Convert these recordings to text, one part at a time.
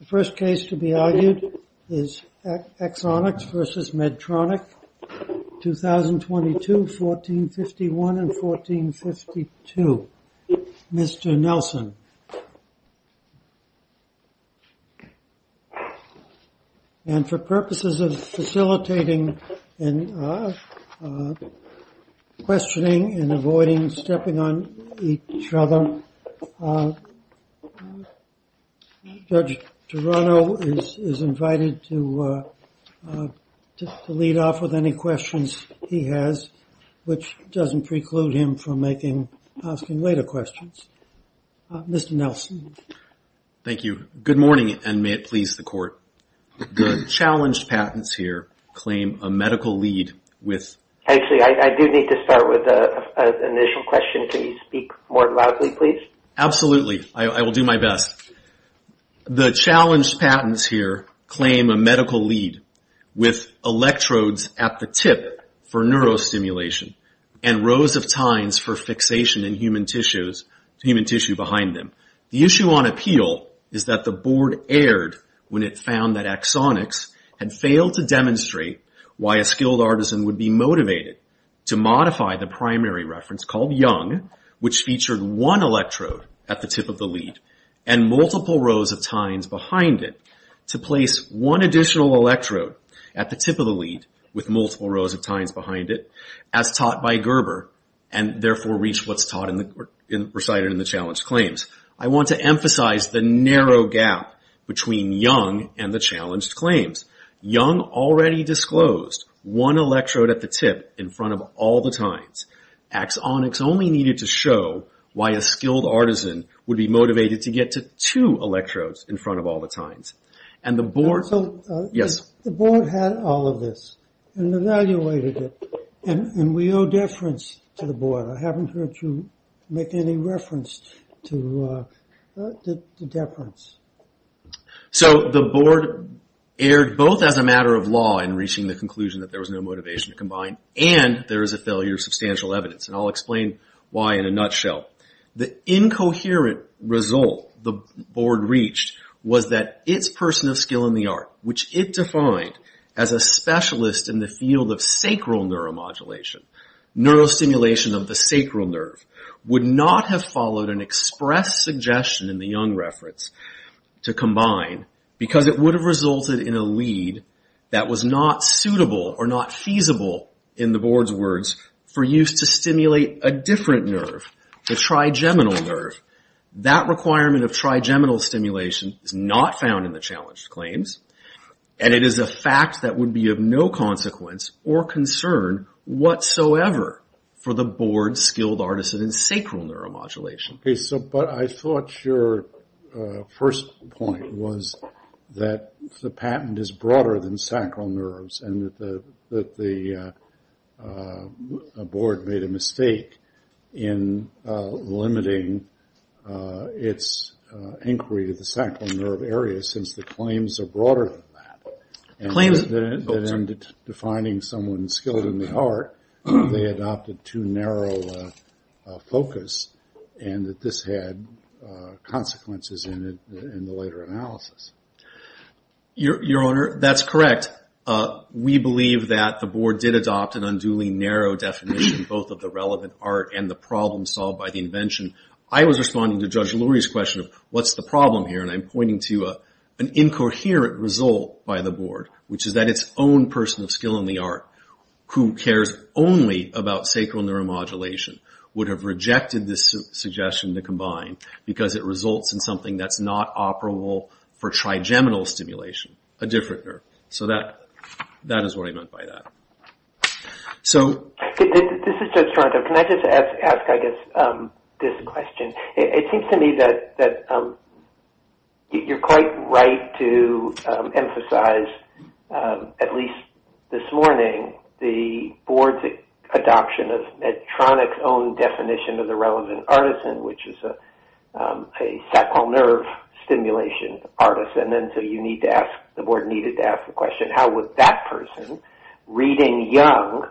The first case to be argued is Axonics v. Medtronic, 2022, 1451 and 1452, Mr. Nelson. And for purposes of facilitating and questioning and avoiding stepping on each other, Judge Torano is invited to lead off with any questions he has, which doesn't preclude him from asking later questions. Mr. Nelson. Thank you. Good morning and may it please the Court. The challenged patents here claim a medical lead with electrodes at the tip for neurostimulation and rows of tines for fixation in human tissue behind them. The issue on appeal is that the Board erred when it found that Axonics had failed to demonstrate why a skilled artisan would be motivated to modify the primary reference called Young, which featured one electrode at the tip of the lead and multiple rows of tines behind it, to place one additional electrode at the tip. I want to emphasize the narrow gap between Young and the challenged claims. Young already disclosed one electrode at the tip in front of all the tines. Axonics only needed to show why a skilled artisan would be motivated to get to two electrodes in front of all the tines. The Board had all of this and evaluated it and we owe deference to the Board. I haven't heard you make any reference to deference. So the Board erred both as a matter of law in reaching the conclusion that there was no motivation to combine and there is a failure of substantial evidence. I'll explain why in a nutshell. The incoherent result the person of skill in the art, which it defined as a specialist in the field of sacral neuromodulation, neurostimulation of the sacral nerve, would not have followed an express suggestion in the Young reference to combine because it would have resulted in a lead that was not suitable or not feasible, in the Board's words, for use to stimulate a different nerve, the trigeminal nerve. That requirement of trigeminal stimulation is not found in the challenged claims and it is a fact that would be of no consequence or concern whatsoever for the Board's skilled artisan in sacral neuromodulation. But I thought your first point was that the patent is broader than sacral nerves and that the Board made a narrow definition both of the relevant art and the problem solved by the invention. I was responding to Judge Lurie's problem here and I'm pointing to an incoherent result by the Board, which is that its own person of skill in the art, who cares only about sacral neuromodulation, would have rejected this suggestion to combine because it results in something that's not operable for trigeminal stimulation, a different nerve. So that is what I meant by that. This is Judge Toronto. Can I just ask this question? It seems to me that you're quite right to emphasize, at least this morning, the Board's adoption of Medtronic's own definition of the relevant artisan, which is a sacral nerve stimulation artisan. So you need to ask, the Board needed to ask the question, how would that person, reading Young,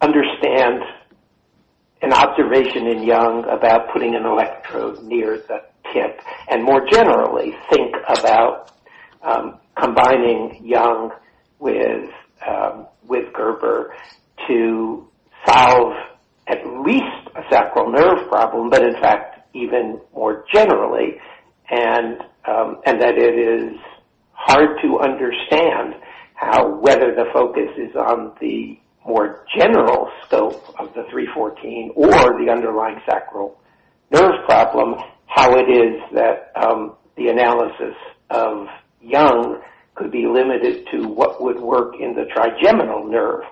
understand an observation in Young about putting an electrode near the tip and more generally think about combining Young with Gerber to solve at least a sacral nerve problem, but in fact even more generally, and that it is hard to understand whether the focus is on the more general scope of the 314 or the underlying sacral nerve problem, how it is that the analysis of Young could be limited to what would work in the trigeminal nerve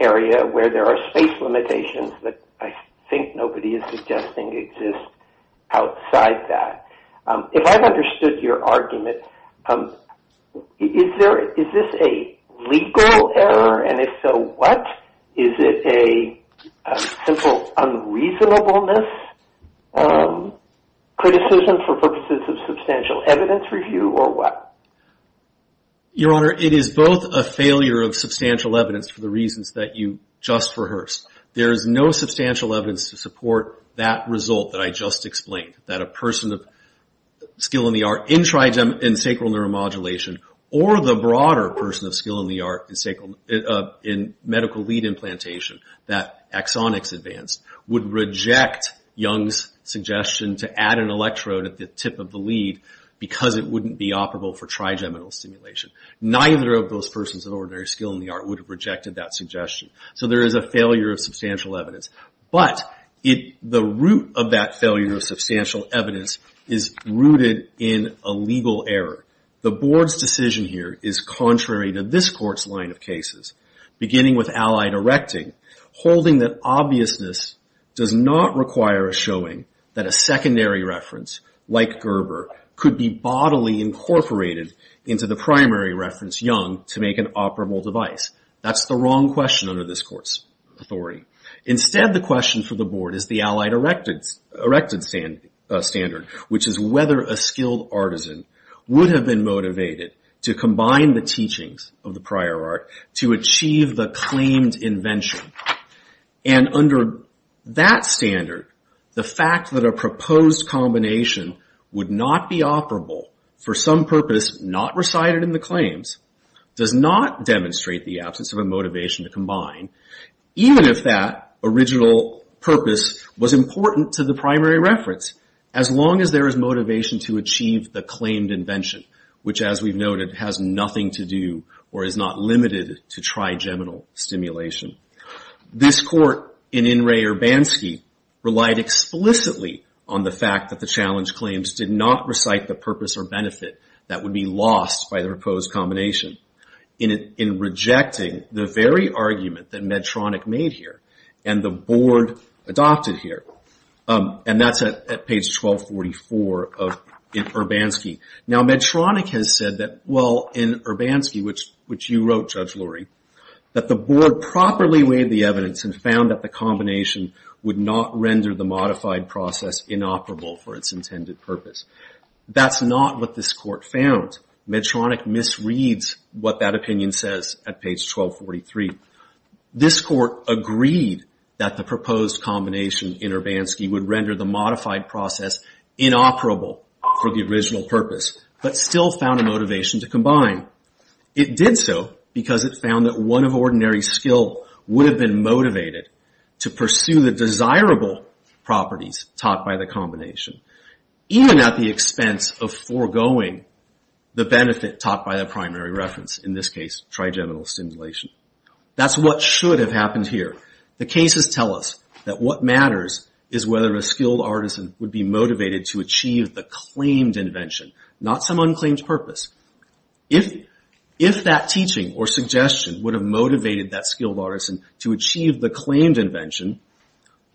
area where there are space limitations that I think nobody is suggesting exist outside that. If I've understood your argument, is this a legal error, and if so, what? Is it a simple unreasonableness criticism for purposes of substantial evidence review, or what? Your Honor, it is both a failure of substantial evidence for the reasons that you just rehearsed. There is no substantial evidence to support that result that I just explained, that a person of skill in the art in trigeminal and sacral nerve modulation or the broader person of skill in the art in medical lead implantation, that axonics advanced, would reject Young's suggestion to add an electrode at the tip of the lead because it wouldn't be operable for trigeminal stimulation. Neither of those persons of ordinary skill in the art would have rejected that suggestion. So there is a failure of substantial evidence, but the root of that decision here is contrary to this Court's line of cases, beginning with allied erecting, holding that obviousness does not require a showing that a secondary reference, like Gerber, could be bodily incorporated into the primary reference, Young, to make an operable device. That's the wrong question under this Court's authority. Instead, the question for the Board is the allied erected standard, which is whether a skilled artisan would have been motivated to combine the teachings of the prior art to achieve the claimed invention. Under that standard, the fact that a proposed combination would not be operable for some purpose not recited in the claims does not demonstrate the absence of a motivation to combine, even if that original purpose was important to the primary reference. As long as there is motivation to achieve the claimed invention, which, as we've noted, has nothing to do or is not limited to trigeminal stimulation. This Court, in In re Urbanski, relied explicitly on the fact that the challenge claims did not recite the purpose or benefit that would be lost by the proposed combination in rejecting the very argument that Medtronic made here and the Board adopted here. And that's at page 1244 of Urbanski. Now, Medtronic has said that, well, in Urbanski, which you wrote, Judge Lurie, that the Board properly weighed the evidence and found that the combination would not render the modified process inoperable for its intended purpose. That's not what this Court found. Medtronic misreads what that opinion says at page 1243. This Court agreed that the proposed combination in Urbanski would render the modified process inoperable for the original purpose, but still found a motivation to combine. It did so because it found that one of ordinary skill would have been motivated to pursue the desirable properties taught by the combination, even at the expense of foregoing the benefit taught by the primary reference, in this case, trigeminal stimulation. That's what should have happened here. The cases tell us that what matters is whether a skilled artisan would be motivated to achieve the claimed invention, not some unclaimed purpose. If that teaching or suggestion would have motivated that skilled artisan to achieve the claimed invention,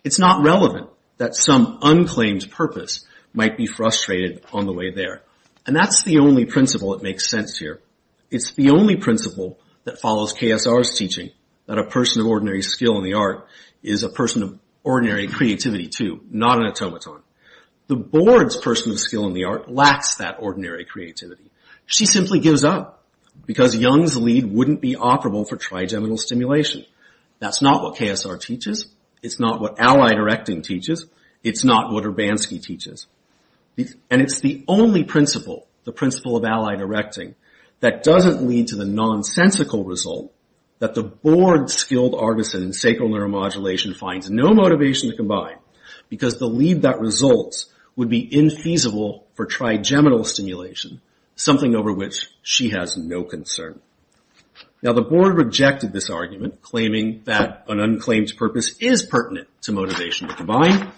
it's not relevant that some unclaimed purpose might be frustrated on the way there. That's the only principle that makes sense here. It's the only principle that follows KSR's teaching that a person of ordinary skill in the art is a person of ordinary creativity, too, not an automaton. The Board's person of skill in the art lacks that ordinary creativity. She simply gives up because Young's lead wouldn't be operable for trigeminal stimulation. That's not what KSR teaches. It's not what Allied Erecting teaches. It's not what Urbanski teaches. It's the only principle, the principle of Allied Erecting, that doesn't lead to the nonsensical result that the Board's skilled artisan in sacral neuromodulation finds no motivation to combine because the lead that results would be infeasible for trigeminal stimulation, something over which she has no concern. Now, the Board rejected this argument, claiming that an unclaimed purpose is pertinent to motivation to combine.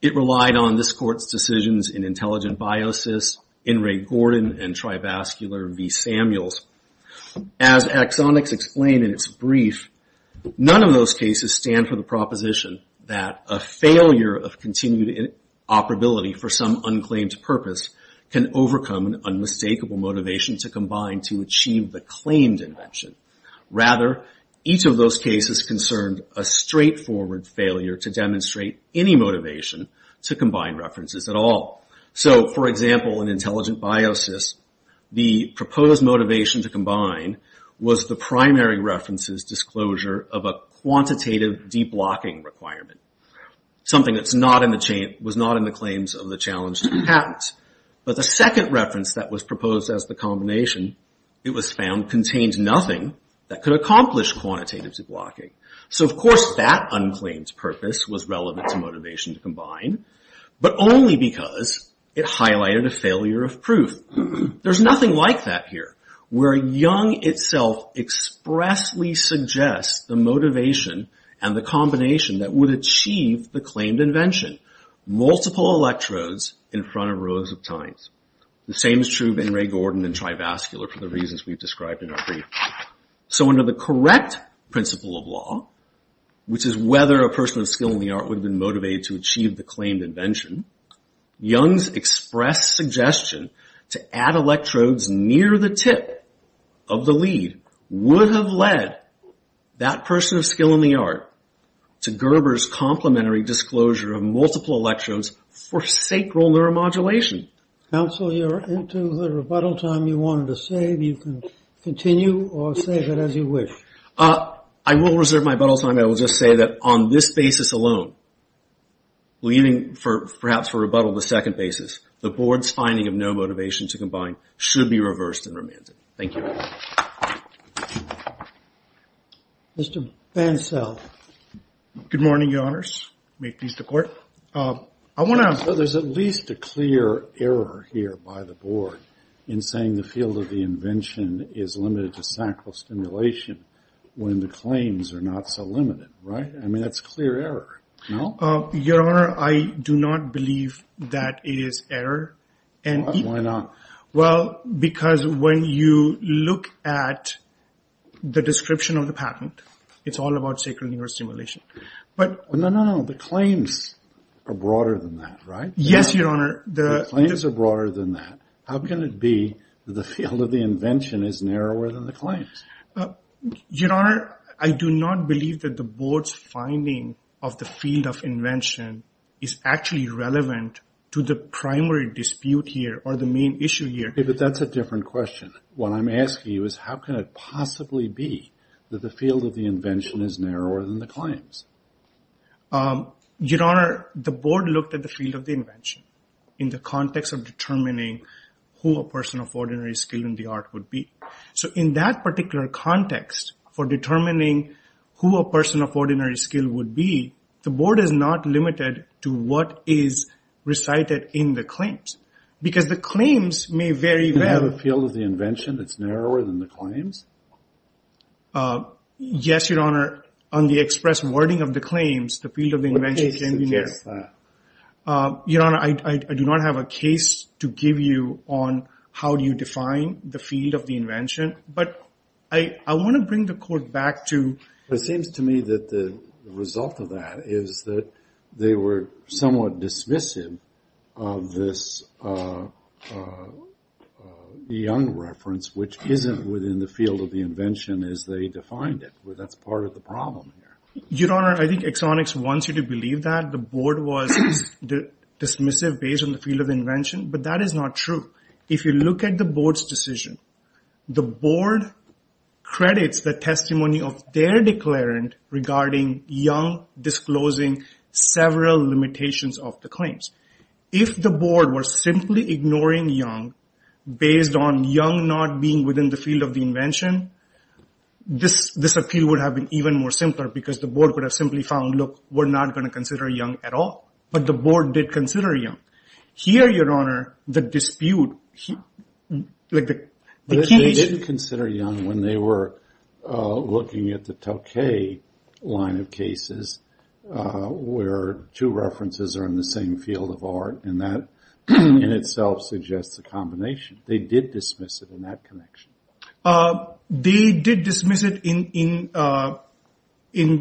It relied on this Court's decisions in Intelligent Biosis, In Re Gordon, and Trivascular v. Samuels. As axonics explain in its brief, none of those cases stand for the proposition that a failure of continued operability for some purpose would overcome an unmistakable motivation to combine to achieve the claimed invention. Rather, each of those cases concerned a straightforward failure to demonstrate any motivation to combine references at all. For example, in Intelligent Biosis, the proposed motivation to combine was the primary reference's disclosure of a quantitative deblocking requirement, something that was not in the challenge to the patent. But the second reference that was proposed as the combination, it was found, contained nothing that could accomplish quantitative deblocking. So, of course, that unclaimed purpose was relevant to motivation to combine, but only because it highlighted a failure of proof. There's nothing like that here, where Young itself expressly suggests the motivation and the evidence in front of rows of tines. The same is true of In Re Gordon and Trivascular for the reasons we've described in our brief. So under the correct principle of law, which is whether a person of skill in the art would have been motivated to achieve the claimed invention, Young's express suggestion to add electrodes near the tip of the lead would have led that person of skill in the art to Gerber's complimentary disclosure of multiple electrodes for sacral neuromodulation. Counsel, you're into the rebuttal time you wanted to save. You can continue or save it as you wish. I will reserve my rebuttal time. I will just say that on this basis alone, leaving perhaps for rebuttal the second basis, the board's finding of no motivation to combine should be reversed and remanded. Thank you. Mr. Bancel. Good morning, Your Honors. May it please the court. I want to ask whether there's at least a clear error here by the board in saying the field of the invention is limited to sacral stimulation when the claims are not so limited, right? I mean, that's clear error. No, Your Honor, I do not believe that it is error. And why not? Well, because when you look at the claims, you can see that there's not a clear error. But when you look at the description of the patent, it's all about sacral neurostimulation. No, no, no. The claims are broader than that, right? Yes, Your Honor. The claims are broader than that. How can it be that the field of the invention is narrower than the claims? Your Honor, I do not believe that the board's finding of the field of invention is actually relevant to the claims. What I'm asking you is how can it possibly be that the field of the invention is narrower than the claims? Your Honor, the board looked at the field of the invention in the context of determining who a person of ordinary skill in the art would be. So in that particular context for determining who a person of ordinary skill would be, the board is not limited to what is recited in the claims. Because the claims may vary. You can have a field of the invention that's narrower than the claims? Yes, Your Honor. On the express wording of the claims, the field of the invention can be narrow. What case is that? Your Honor, I do not have a case to give you on how do you define the field of the invention. But I want to bring the court back to... It seems to me that the result of that is that they were somewhat dismissive of this Young reference, which isn't within the field of the invention as they defined it. That's part of the problem. Your Honor, I think Exonix wants you to believe that the board was dismissive based on the field of invention. But that is not true. If you look at the board's decision, the board credits the testimony of their declarant regarding Young disclosing several limitations of the field of the claims. If the board were simply ignoring Young based on Young not being within the field of the invention, this appeal would have been even more simpler because the board would have simply found, look, we're not going to consider Young at all. But the board did consider Young. Here, Your Honor, the dispute... They didn't consider Young when they were looking at the Tauke line of cases where two references are in the same field of art. That in itself suggests a combination. They did dismiss it in that connection. They did dismiss it in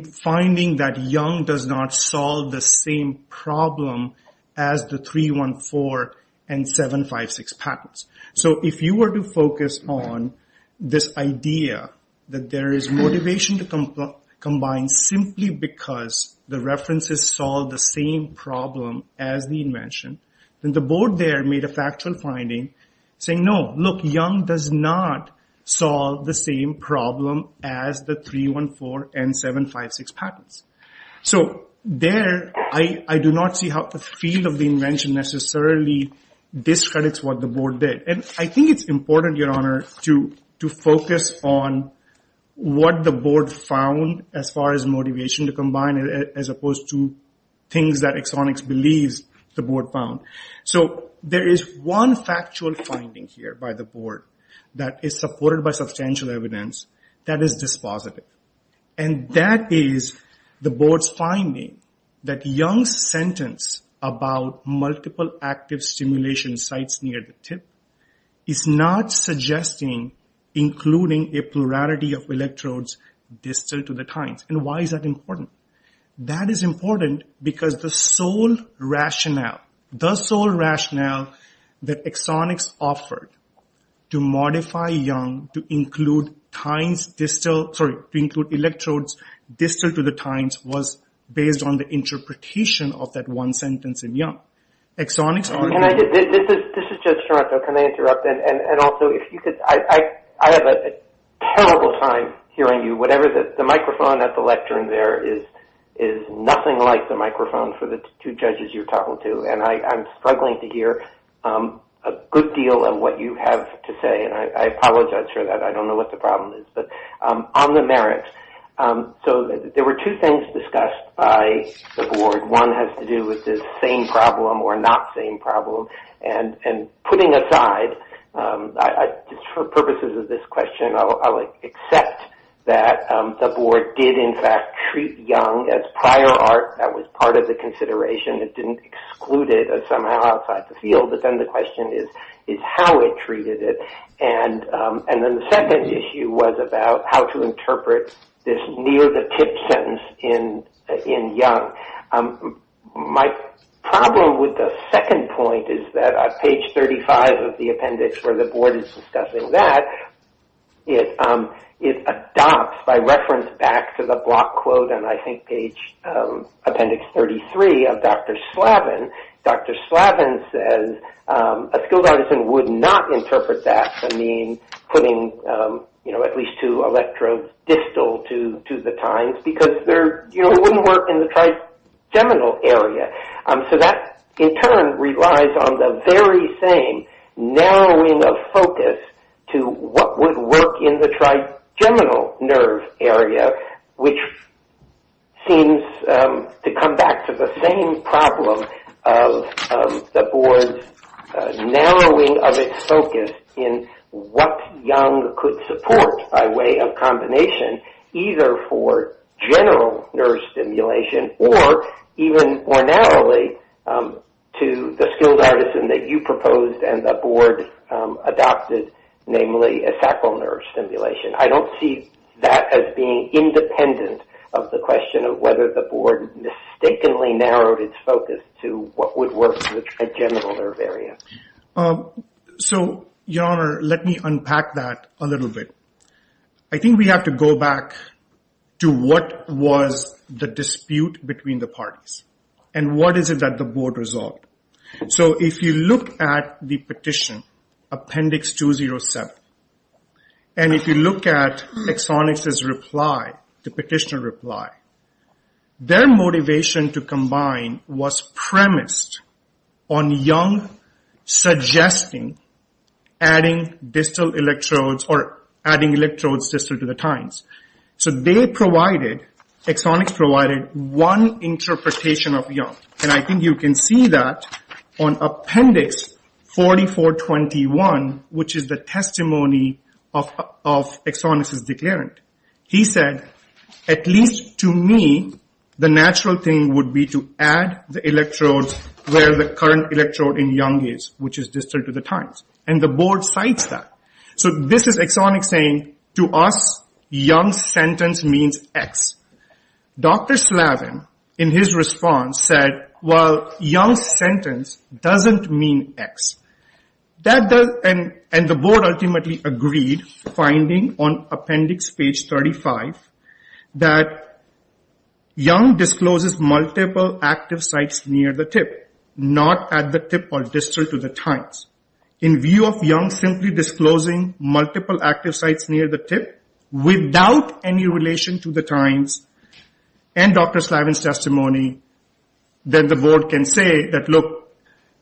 finding that Young does not solve the same problem as the 314 and 756 patents. So if you were to focus on this idea that there is motivation to combine simply because the references solve the same problem as the invention, then the board there made a factual finding saying, no, look, Young does not solve the same problem as the 314 and 756 patents. So there, I do not see how the field of the invention necessarily discredits what the board did. And I think it's important, Your Honor, to focus on what the board found as far as motivation to combine as opposed to things that Exonix believes the board found. So there is one factual finding here by the board that is supported by substantial evidence that is dispositive. And that is the board's finding that Young's sentence about multiple active stimulation sites near the tip is not suggesting including a plurality of electrodes distal to the tines. And why is that important? That is important because the sole rationale behind Young's sentence, the sole rationale that Exonix offered to modify Young to include electrodes distal to the tines was based on the interpretation of that one sentence in Young. Exonix argued... And I'm struggling to hear a good deal of what you have to say. And I apologize for that. I don't know what the problem is. But on the merits, so there were two things discussed by the board. One has to do with this same problem or not same problem. And putting aside, just for purposes of this question, I'll accept that the board did in fact treat Young as prior art. That was part of the consideration. It didn't exclude it somehow outside the field. But then the question is how it treated it. And then the second issue was about how to interpret this near the tip sentence in Young. My problem with the second point is that on page 35 of the appendix where the board is discussing that, it adopts by reference back to the block quote on I think page appendix 33 of Dr. Slavin. Dr. Slavin says a skilled artisan would not interpret that to mean putting at least two electrodes distal to the tines, because it wouldn't work in the trigeminal area. So that in turn relies on the very same narrowing of focus to what would work in the trigeminal nerve area, which seems to come back to the same problem of the board's narrowing of its focus in what Young could support by way of combination either for general nerve stimulation or even ornately to the skilled artisan that you proposed and the board adopted, namely a sacral nerve stimulation. I don't see that as being independent of the question of whether the board mistakenly narrowed its focus to what would work in the trigeminal nerve area. So, Your Honor, let me unpack that a little bit. I think we have to go back to what was the dispute between the parties and what is it that the board resolved. So if you look at the petition, appendix 207, and if you look at Exonix's reply, the petitioner's reply, their motivation to combine was premised on Young suggesting adding distal electrodes or adding electrodes distal to the tines. So they provided, Exonix provided one interpretation of Young, and I think you can see that on appendix 4421, which is the testimony of Exonix's declarant. He said, at least to me, the natural thing would be to add the electrodes where the current electrode in Young is, which is distal to the tines, and the board cites that. So this is Exonix saying, to us, Young's sentence means X. Dr. Slavin, in his response, said, well, Young's sentence doesn't mean X. And the board ultimately agreed, finding on appendix page 35, that Young discloses multiple active sites near the tip, not at the tip or distal to the tines. In view of Young simply disclosing multiple active sites near the tip, without any relation to the tines, and Dr. Slavin's testimony, that the board can say that, look,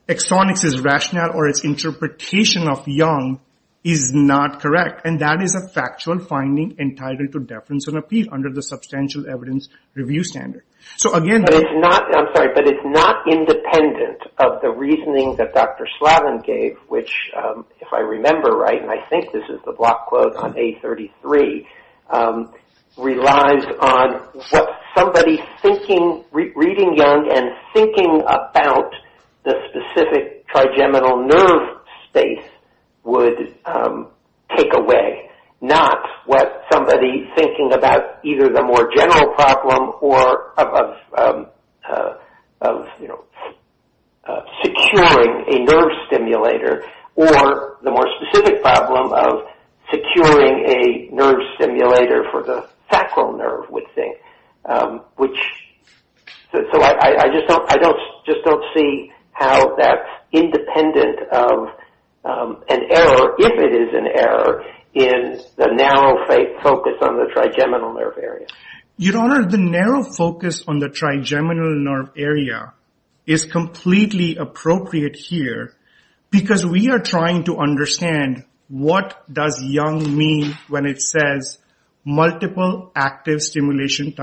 Exonix's rationale or its interpretation of Young is not correct. And that is a factual finding entitled to deference and appeal under the substantial evidence review standard. But it's not independent of the reasoning that Dr. Slavin gave, which, if I remember right, and I think this is the block quote on A33, relies on what somebody reading Young and thinking about the specific trigeminal nerve space would take away, not what somebody thinking about either the more general problem of, you know, securing a nerve stimulator, or the more specific problem of securing a nerve stimulator for the sacral nerve, would think. So I just don't see how that's independent of an error, if it is an error, in the narrow focus on the trigeminal nerve area. Your Honor, the narrow focus on the trigeminal nerve area is completely appropriate here, because we are trying to understand what does Young mean when it says, multiple active stimulation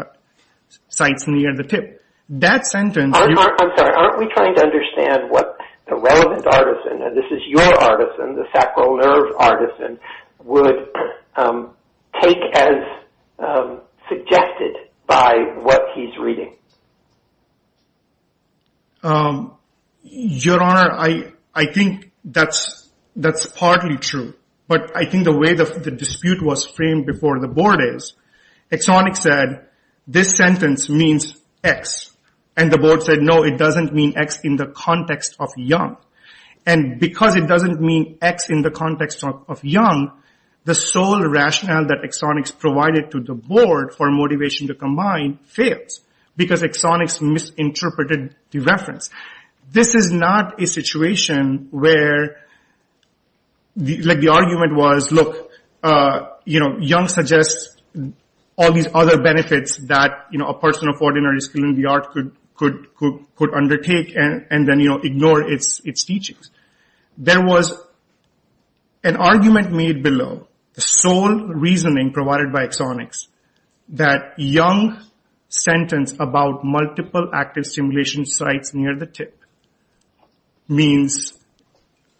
sites near the tip. I'm sorry, aren't we trying to understand what the relevant artisan, and this is your artisan, the sacral nerve artisan, would take as suggested by what he's reading? Your Honor, I think that's partly true. But I think the way the dispute was framed before the Board is, Exonix said, this sentence means X, and the Board said, no, it doesn't mean X in the context of Young. And because it doesn't mean X in the context of Young, the sole rationale that Exonix provided to the Board for motivation to combine fails, because Exonix misinterpreted the reference. This is not a situation where the argument was, look, Young suggests all these other benefits that a person of ordinary skill in the art could undertake and then ignore its teachings. There was an argument made below, the sole reasoning provided by Exonix, that Young's sentence about multiple active stimulation sites near the tip, means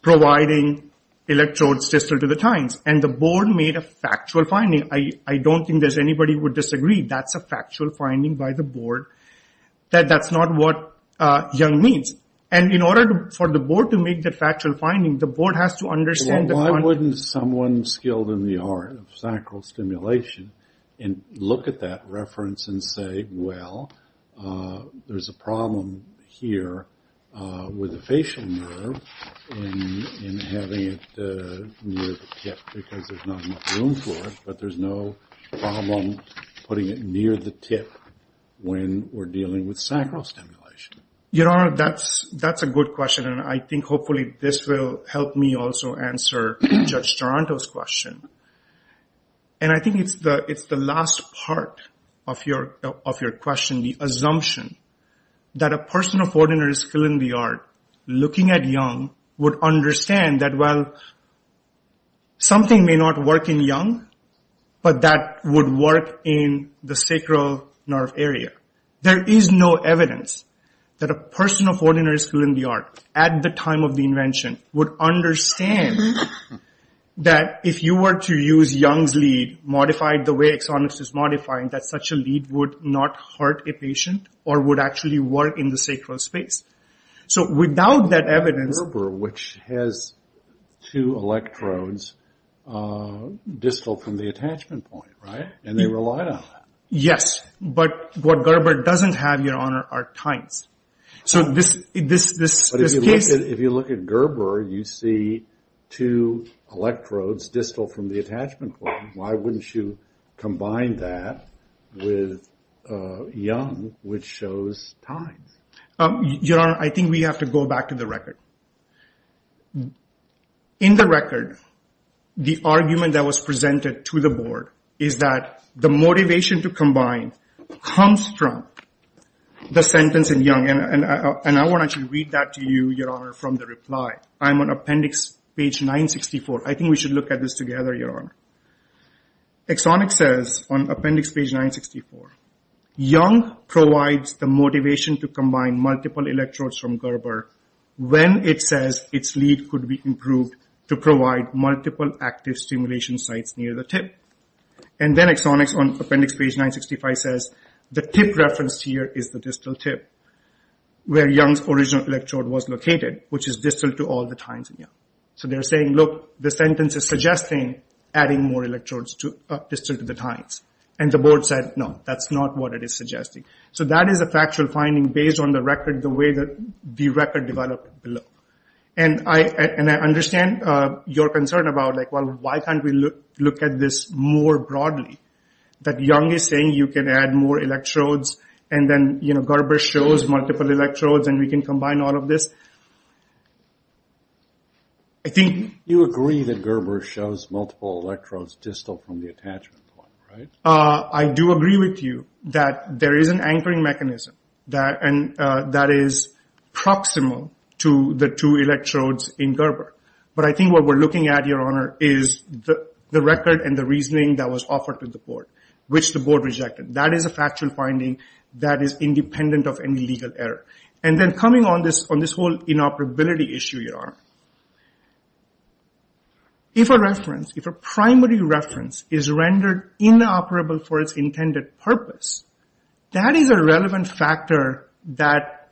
providing electrodes distal to the tines. And the Board made a factual finding. I don't think there's anybody who would disagree. That's a factual finding by the Board. That's not what Young means. And in order for the Board to make the factual finding, the Board has to understand... Why wouldn't someone skilled in the art of sacral stimulation look at that reference and say, well, there's a problem here with the facial nerve in having it near the tip, because there's not enough room for it, but there's no problem putting it near the tip when we're dealing with sacral stimulation. Your Honor, that's a good question, and I think hopefully this will help me also answer Judge Toronto's question. And I think it's the last part of your question, the assumption that a person of ordinary skill in the art looking at Young would understand that, well, something may not work in Young, but that would work in the sacral nerve area. There is no evidence that a person of ordinary skill in the art, at the time of the invention, would understand that if you were to use Young's lead modified the way Exonix is modifying, that such a lead would not hurt a patient or would actually work in the sacral space. So without that evidence... Gerber, which has two electrodes distal from the attachment point, right? And they relied on that. Yes, but what Gerber doesn't have, Your Honor, are tines. But if you look at Gerber, you see two electrodes distal from the attachment point. Why wouldn't you combine that with Young, which shows tines? Your Honor, I think we have to go back to the record. In the record, the argument that was presented to the Board is that the motivation to combine comes from the sentence in Young, and I want to actually read that to you, Your Honor, from the reply. I'm on appendix page 964. I think we should look at this together, Your Honor. Exonix says on appendix page 964, Young provides the motivation to combine multiple electrodes from Gerber when it says its lead could be improved to provide multiple active stimulation sites near the tip. And then Exonix on appendix page 965 says the tip reference here is the distal tip, where Young's original electrode was located, which is distal to all the tines in Young. So they're saying, look, the sentence is suggesting adding more electrodes distal to the tines. And the Board said, no, that's not what it is suggesting. So that is a factual finding based on the record, the way that the record developed below. And I understand your concern about, well, why can't we look at this more broadly? That Young is saying you can add more electrodes and then Gerber shows multiple electrodes and we can combine all of this. Do you agree that Gerber shows multiple electrodes distal from the attachment point? I do agree with you that there is an anchoring mechanism that is proximal to the two electrodes in Gerber. But I think what we're looking at, Your Honor, is the record and the reasoning that was offered to the Board, which the Board rejected. That is a factual finding that is independent of any legal error. And then coming on this whole inoperability issue, Your Honor, if a reference, if a primary reference is rendered inoperable for its intended purpose, that is a relevant factor that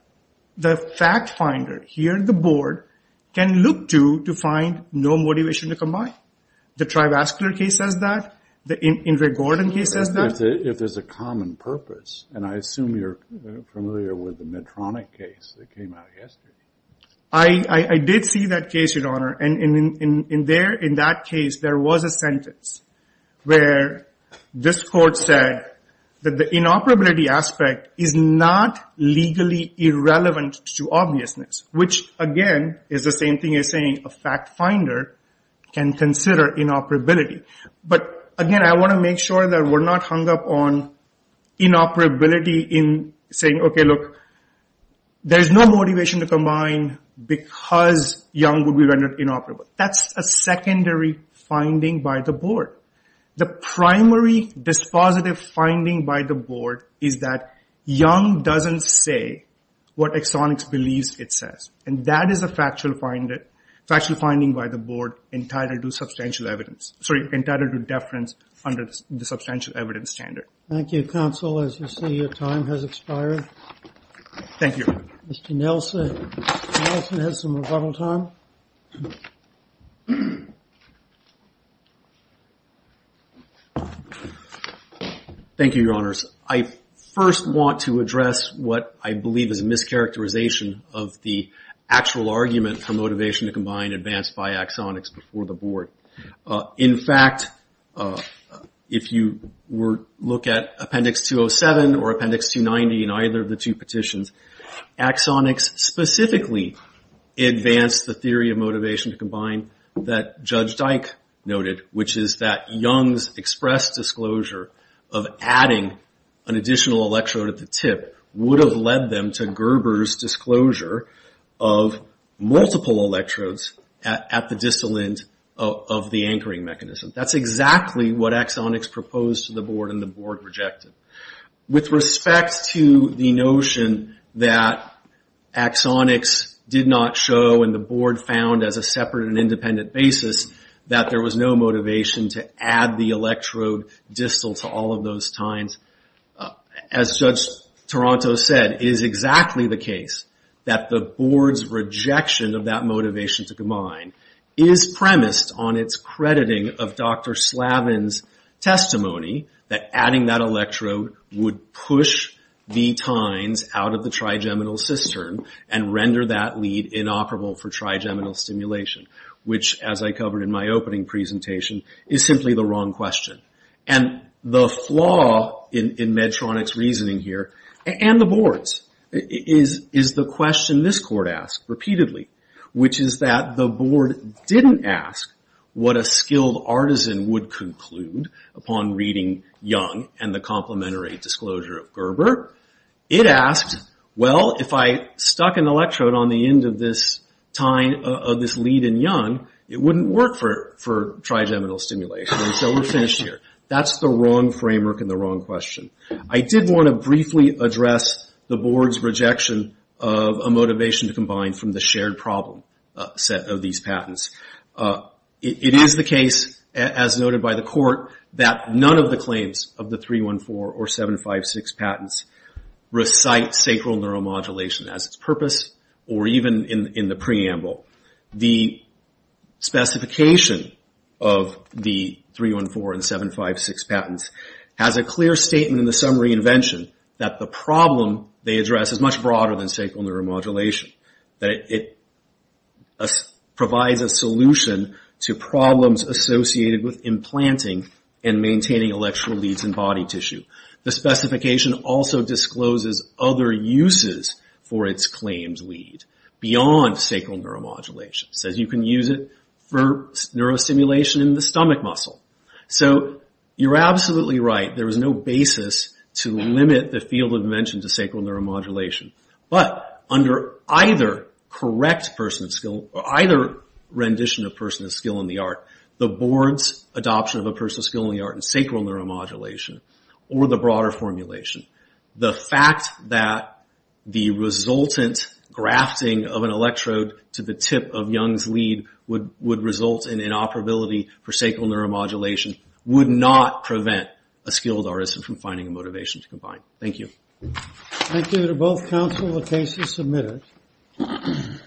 the fact finder here at the Board can look to to find no motivation to combine. The Trivascular case says that. The Ingrid Gordon case says that. If there's a common purpose. And I assume you're familiar with the Medtronic case that came out yesterday. I did see that case, Your Honor. And in that case, there was a sentence where this court said that the inoperability aspect is not legally irrelevant to obviousness. Which, again, is the same thing as saying a fact finder can consider inoperability. But, again, I want to make sure that we're not hung up on inoperability in saying, okay, look, there's no motivation to combine because Young would be rendered inoperable. That's a secondary finding by the Board. The primary dispositive finding by the Board is that Young doesn't say what Exonix believes it says. And that is a factual finding by the Board entitled to Thank you. Mr. Nelson has some rebuttal time. Thank you, Your Honors. I first want to address what I believe is a mischaracterization of the actual argument for motivation to combine advanced by Exonix before the Board. In fact, if you look at Appendix 207 or Appendix 290 in either of the two petitions, Exonix specifically advanced the theory of motivation to combine that Judge Dyke noted, which is that Young's express disclosure of adding an additional electrode at the tip would have led them to Gerber's disclosure of multiple electrodes at the distal end of the anchoring mechanism. That's exactly what Exonix proposed to the Board and the Board rejected. With respect to the notion that Exonix did not show and the Board found as a separate and independent basis that there was no motivation to add the electrode distal to all of those tines, as Judge Dyke proposed to combine, is premised on its crediting of Dr. Slavin's testimony that adding that electrode would push the tines out of the trigeminal cistern and render that lead inoperable for trigeminal stimulation, which, as I covered in my opening presentation, is simply the wrong question. And the flaw in Medtronic's reasoning here, and the Board's, is the question this Court asked repeatedly, which is that the Board didn't ask what a skilled artisan would conclude upon reading Young and the complementary disclosure of Gerber. It asked, well, if I stuck an electrode on the end of this lead in Young, it wouldn't work for trigeminal stimulation, and so we're finished here. That's the wrong framework and the wrong question. I did want to briefly address the Board's rejection of a motivation to combine from the shared problem set of these patents. It is the case, as noted by the Court, that none of the claims of the 314 or 756 patents recite sacral neuromodulation as its purpose, or even in the preamble. The specification of the 314 and 756 patents has a clear statement in the summary invention that the problem they address is much broader than sacral neuromodulation. It provides a solution to problems associated with implanting and maintaining electrode leads in body tissue. The specification also discloses other uses for its claimed lead beyond sacral neuromodulation. It says you can use it for neurostimulation in the stomach muscle. You're absolutely right. There is no basis to limit the field of invention to sacral neuromodulation, but under either correct rendition of person of skill in the art, the Board's adoption of a person of skill in the art in sacral neuromodulation, or the broader formulation, the fact that the resultant grafting of an electrode to the tip of Young's lead would result in inoperability for sacral neuromodulation would not prevent a skilled artist from finding a motivation to combine. Thank you.